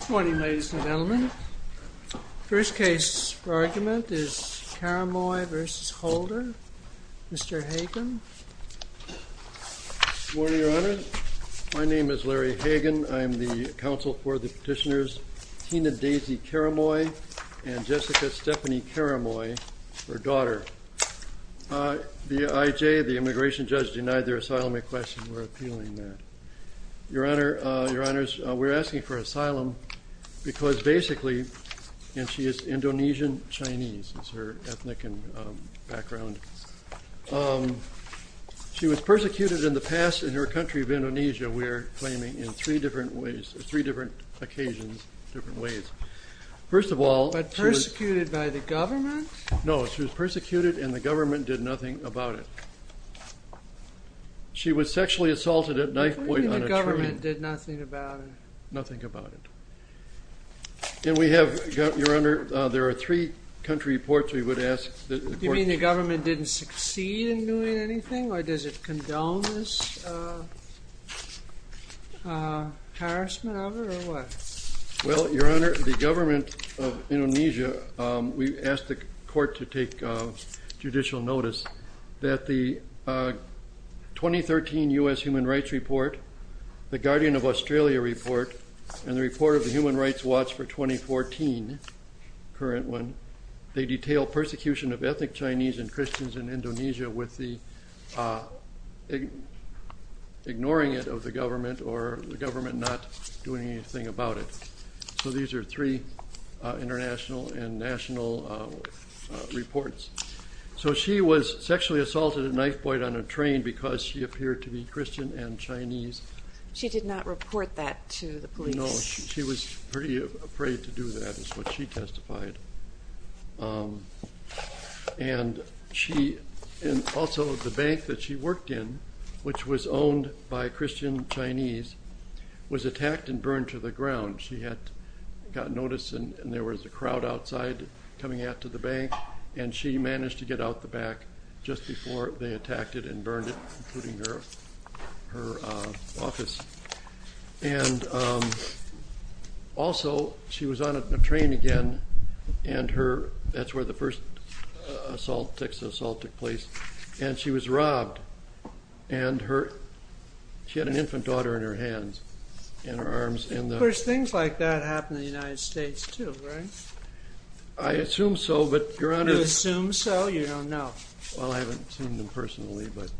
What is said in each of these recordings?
Good morning, ladies and gentlemen. The first case for argument is Karamoy v. Holder. Mr. Hagen. Good morning, Your Honor. My name is Larry Hagen. I am the counsel for the petitioners Tina Daisy Karamoy and Jessica Stephanie Karamoy, her daughter. The IJ, the immigration judge, denied their asylum because basically, and she is Indonesian Chinese is her ethnic and background, she was persecuted in the past in her country of Indonesia, we're claiming in three different ways, three different occasions, different ways. First of all, but persecuted by the government? No, she was persecuted and the government did nothing about it. She was sexually assaulted at knifepoint on a tree. The government did nothing about it? Nothing about it. And we have got, Your Honor, there are three country reports we would ask that the court... You mean the government didn't succeed in doing anything or does it condone this harassment of her or what? Well, Your Honor, the government of Indonesia, we asked the Guardian of Australia report and the report of the Human Rights Watch for 2014, current one, they detail persecution of ethnic Chinese and Christians in Indonesia with the ignoring it of the government or the government not doing anything about it. So these are three international and national reports. So she was sexually assaulted at knifepoint on a train because she appeared to be Christian and Chinese. She did not report that to the police? No, she was pretty afraid to do that is what she testified. And she, and also the bank that she worked in, which was owned by Christian Chinese, was attacked and burned to the ground. She had got notice and there was a crowd outside coming out to the bank and she was taken to the office. And also she was on a train again and her, that's where the first assault, sex assault took place, and she was robbed. And her, she had an infant daughter in her hands and her arms in the... Of course, things like that happen in the United States too, right? I assume so, but Your Honor... You assume so? You don't know. Well, I haven't seen them personally, but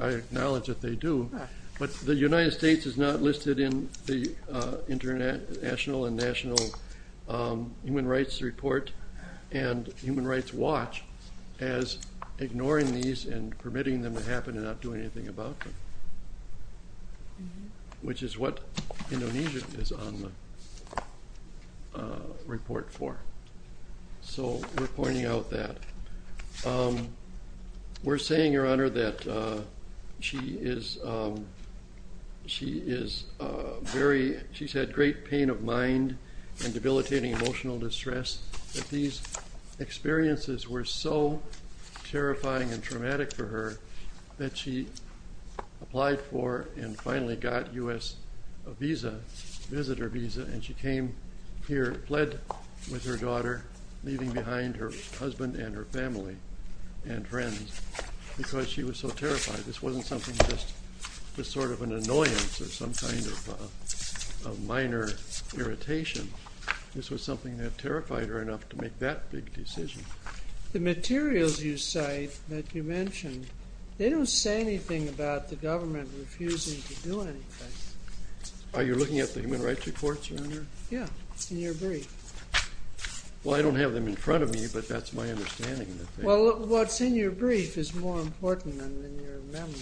I acknowledge that they do. But the United States is not listed in the international and national human rights report and human rights watch as ignoring these and permitting them to happen and not doing anything about them, which is what Indonesia is on the report for. So we're pointing out that. We're saying, Your Honor, that she is, she is very, she's had great pain of mind and debilitating emotional distress. That these experiences were so terrifying and traumatic for her that she applied for and finally got U.S. visa, visitor visa, and she came here, fled with her daughter, leaving behind her husband and her family and friends because she was so terrified. This wasn't something just, just sort of an annoyance or some kind of minor irritation. This was something that terrified her enough to make that big decision. The materials you cite that you mentioned, they don't say anything about the government refusing to do anything. Are you looking at the human rights reports, Your Honor? Yeah, in your brief. Well, I don't have them in front of me, but that's my understanding. Well, what's in your brief is more important than in your memory.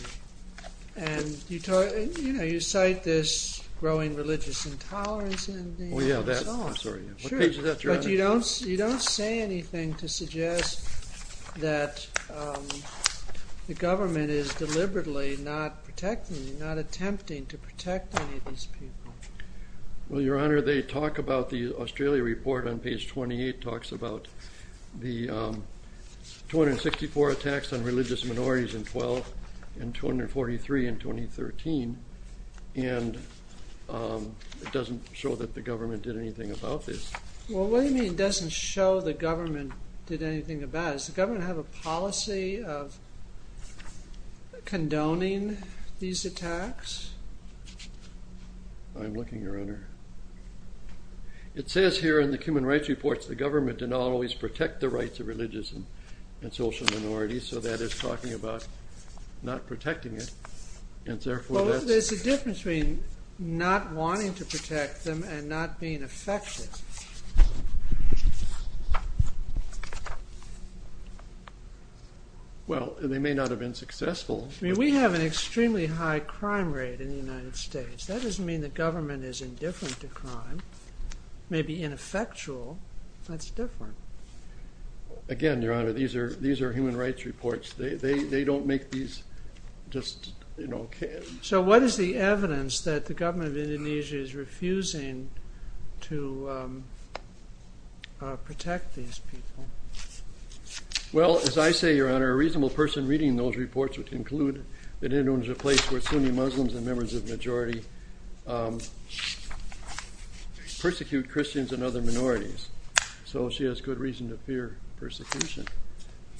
And you talk, you know, you cite this growing religious intolerance and... Oh yeah, that, I'm sorry, what page is that you're on? But you don't, you don't say anything to suggest that the government is deliberately not protecting, not attempting to protect any of these people. Well, Your Honor, they talk about the Australia report on page 28 talks about the 264 attacks on religious I mean, it doesn't show the government did anything about it. Does the government have a policy of condoning these attacks? I'm looking, Your Honor. It says here in the human rights reports, the government did not always protect the rights of religious and and social minorities. So that is talking about not protecting it. And therefore, there's a difference between not wanting to protect them and not being effective. Well, they may not have been successful. I mean, we have an extremely high crime rate in the United States. That doesn't mean the government is indifferent to crime, maybe ineffectual. That's different. Again, Your Honor, these are these are human rights reports. They don't make these just, you know... So what is the evidence that the government of Indonesia is refusing to protect these people? Well, as I say, Your Honor, a reasonable person reading those reports would conclude that Indonesia is a place where Sunni Muslims and members of the majority persecute Christians and other minorities. So she has good reason to fear persecution.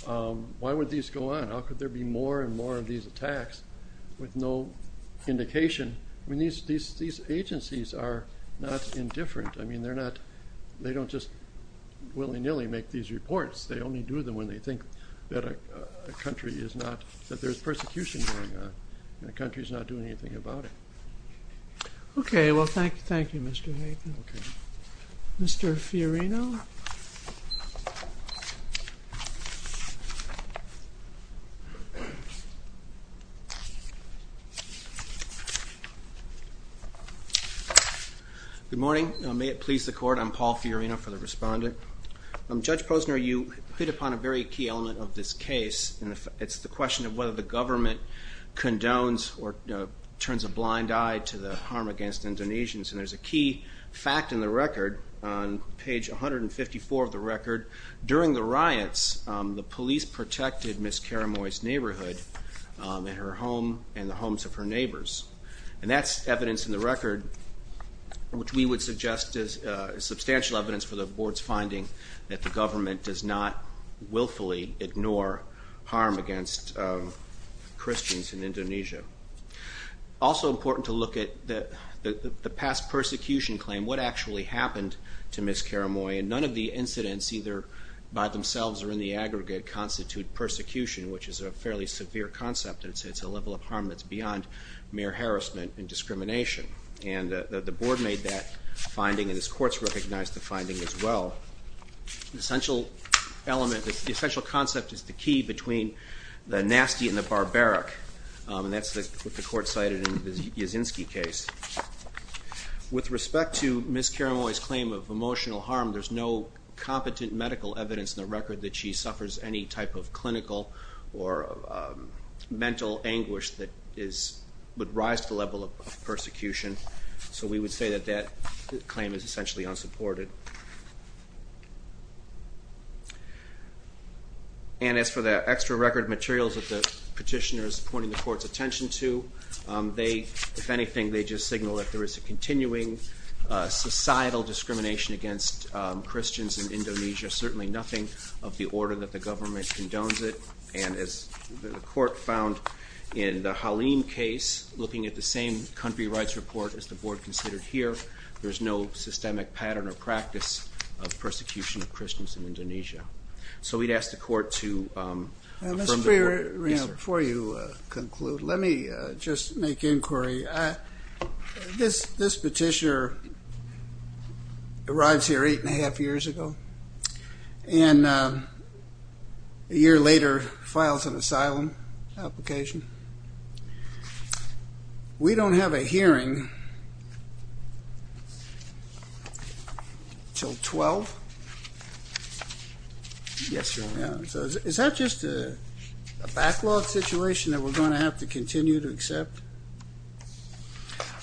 Why would these go on? How could there be more and more of these attacks with no indication? I mean, these agencies are not indifferent. I mean, they're not, they don't just willy nilly make these reports. They only do them when they think that a country is not, that there's persecution going on, and the country's not doing anything about it. Okay, well, thank you. Thank you, Mr. Hayden. Mr. Fiorino. Good morning. May it please the Court, I'm Paul Fiorino for the Respondent. Judge Posner, you hit upon a very key element of this case, and it's the question of whether the government condones or turns a blind eye to the harm against Indonesians. And there's a key fact in the record, on Ms. Karamoy's neighborhood, in her home and the homes of her neighbors. And that's evidence in the record, which we would suggest is substantial evidence for the Board's finding that the government does not willfully ignore harm against Christians in Indonesia. Also important to look at the past persecution claim, what actually happened to Ms. Karamoy, and none of the incidents, either by themselves or in the aggregate, constitute persecution, which is a fairly severe concept. It's a level of harm that's beyond mere harassment and discrimination. And the Board made that finding, and this Court's recognized the finding as well. The essential element, the essential concept is the key between the nasty and the barbaric, and that's what the Court cited in the Yasinski case. With respect to Ms. Karamoy's claim of emotional harm, there's no competent medical evidence in the record that she suffers any type of clinical or mental anguish that would rise to the level of persecution. So we would say that that claim is essentially unsupported. And as for the extra record materials that the petitioner is pointing the Court's attention to, they, if anything, they just signal that there is a And as the Court found in the Halim case, looking at the same country rights report as the Board considered here, there's no systemic pattern or practice of persecution of Christians in Indonesia. So we'd ask the Court to affirm the Board. Before you conclude, let me just make inquiry. This petitioner arrives here eight and a half years ago, and a year later files an asylum application. We don't have a hearing until 12. Yes, Your Honor. So is that just a backlog situation that we're going to have to continue to accept?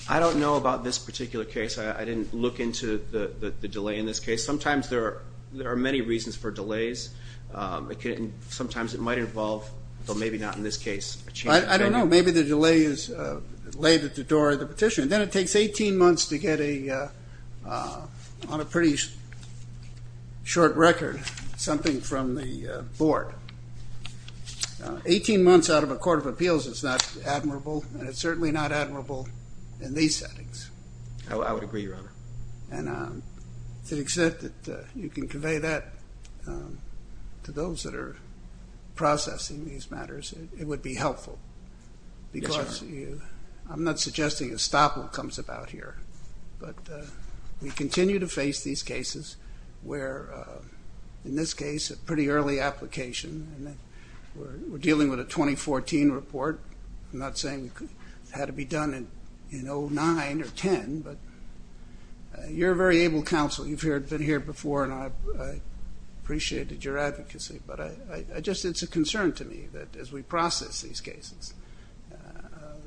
I don't know about this particular case. I didn't look into the delay in this case. Sometimes there are many reasons for delays. Sometimes it might involve, well, maybe not in this case. I don't know. Maybe the delay is delayed at the door of the petitioner. Then it takes 18 months to get a, on a pretty short record, something from the Board. 18 months out of a court of appeals is not admirable, and it's certainly not admirable in these settings. And to the extent that you can convey that to those that are processing these matters, it would be helpful. Yes, Your Honor. Because I'm not suggesting a stop will come about here, but we continue to face these cases where, in this case, a pretty early application. We're dealing with a 2014 report. I'm not saying it had to be done in 2009 or 2010, but you're a very able counsel. You've been here before, and I appreciated your advocacy. But it's a concern to me that, as we process these cases,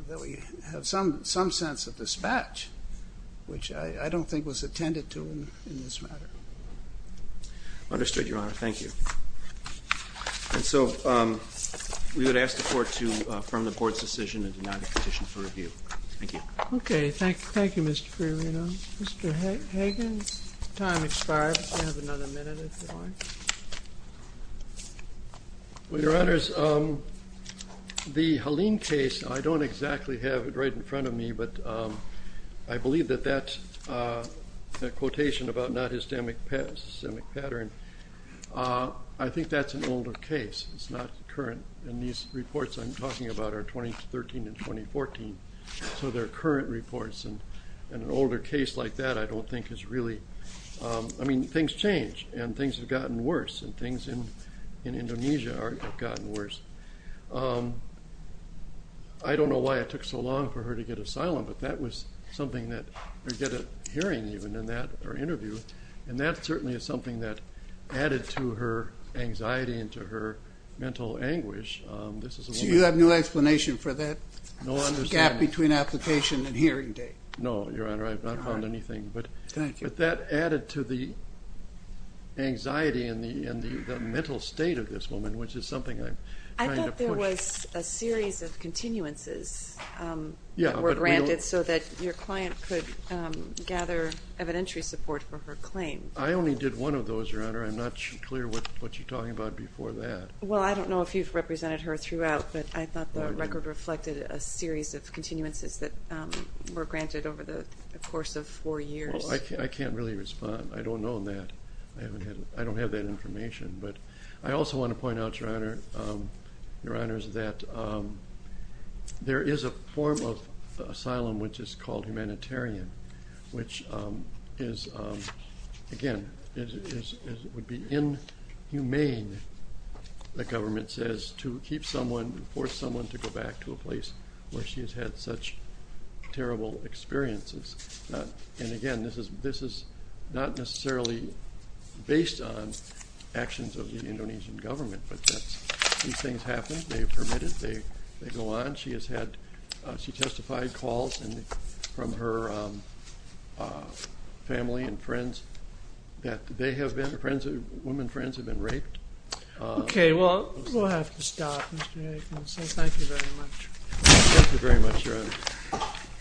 that we have some sense of dispatch, which I don't think was attended to in this matter. Understood, Your Honor. Thank you. And so we would ask the Court to affirm the Board's decision and deny the petition for review. Thank you. Okay. Thank you, Mr. Ferriero. Mr. Hagan, time expired. You have another minute, if you want. Well, Your Honors, the Haleen case, I don't exactly have it right in front of me, but I believe that that quotation about not systemic pattern, I think that's an older case. It's not current. And these reports I'm talking about are 2013 and 2014, so they're current reports. In an older case like that, I don't think it's really – I mean, things change, and things have gotten worse, and things in Indonesia have gotten worse. I don't know why it took so long for her to get asylum, but that was something that – or get a hearing, even, in that interview. And that certainly is something that added to her anxiety and to her mental anguish. So you have no explanation for that gap between application and hearing date? No, Your Honor. I have not found anything. But that added to the anxiety and the mental state of this woman, which is something I'm trying to push. I thought there was a series of continuances that were granted so that your client could gather evidentiary support for her claim. I only did one of those, Your Honor. I'm not clear what you're talking about before that. Well, I don't know if you've represented her throughout, but I thought the record reflected a series of continuances that were granted over the course of four years. I can't really respond. I don't know that. I don't have that information. But I also want to point out, Your Honor, that there is a form of asylum which is called humanitarian, which is – again, would be inhumane, the government says, to keep someone – force someone to go back to a place where she has had such terrible experiences. And again, this is not necessarily based on actions of the Indonesian government. But these things happen. They are permitted. They go on. She has had – she testified calls from her family and friends that they have been – women friends have been raped. Okay. Well, we'll have to stop, Mr. Aikin. So thank you very much. Thank you very much, Your Honor.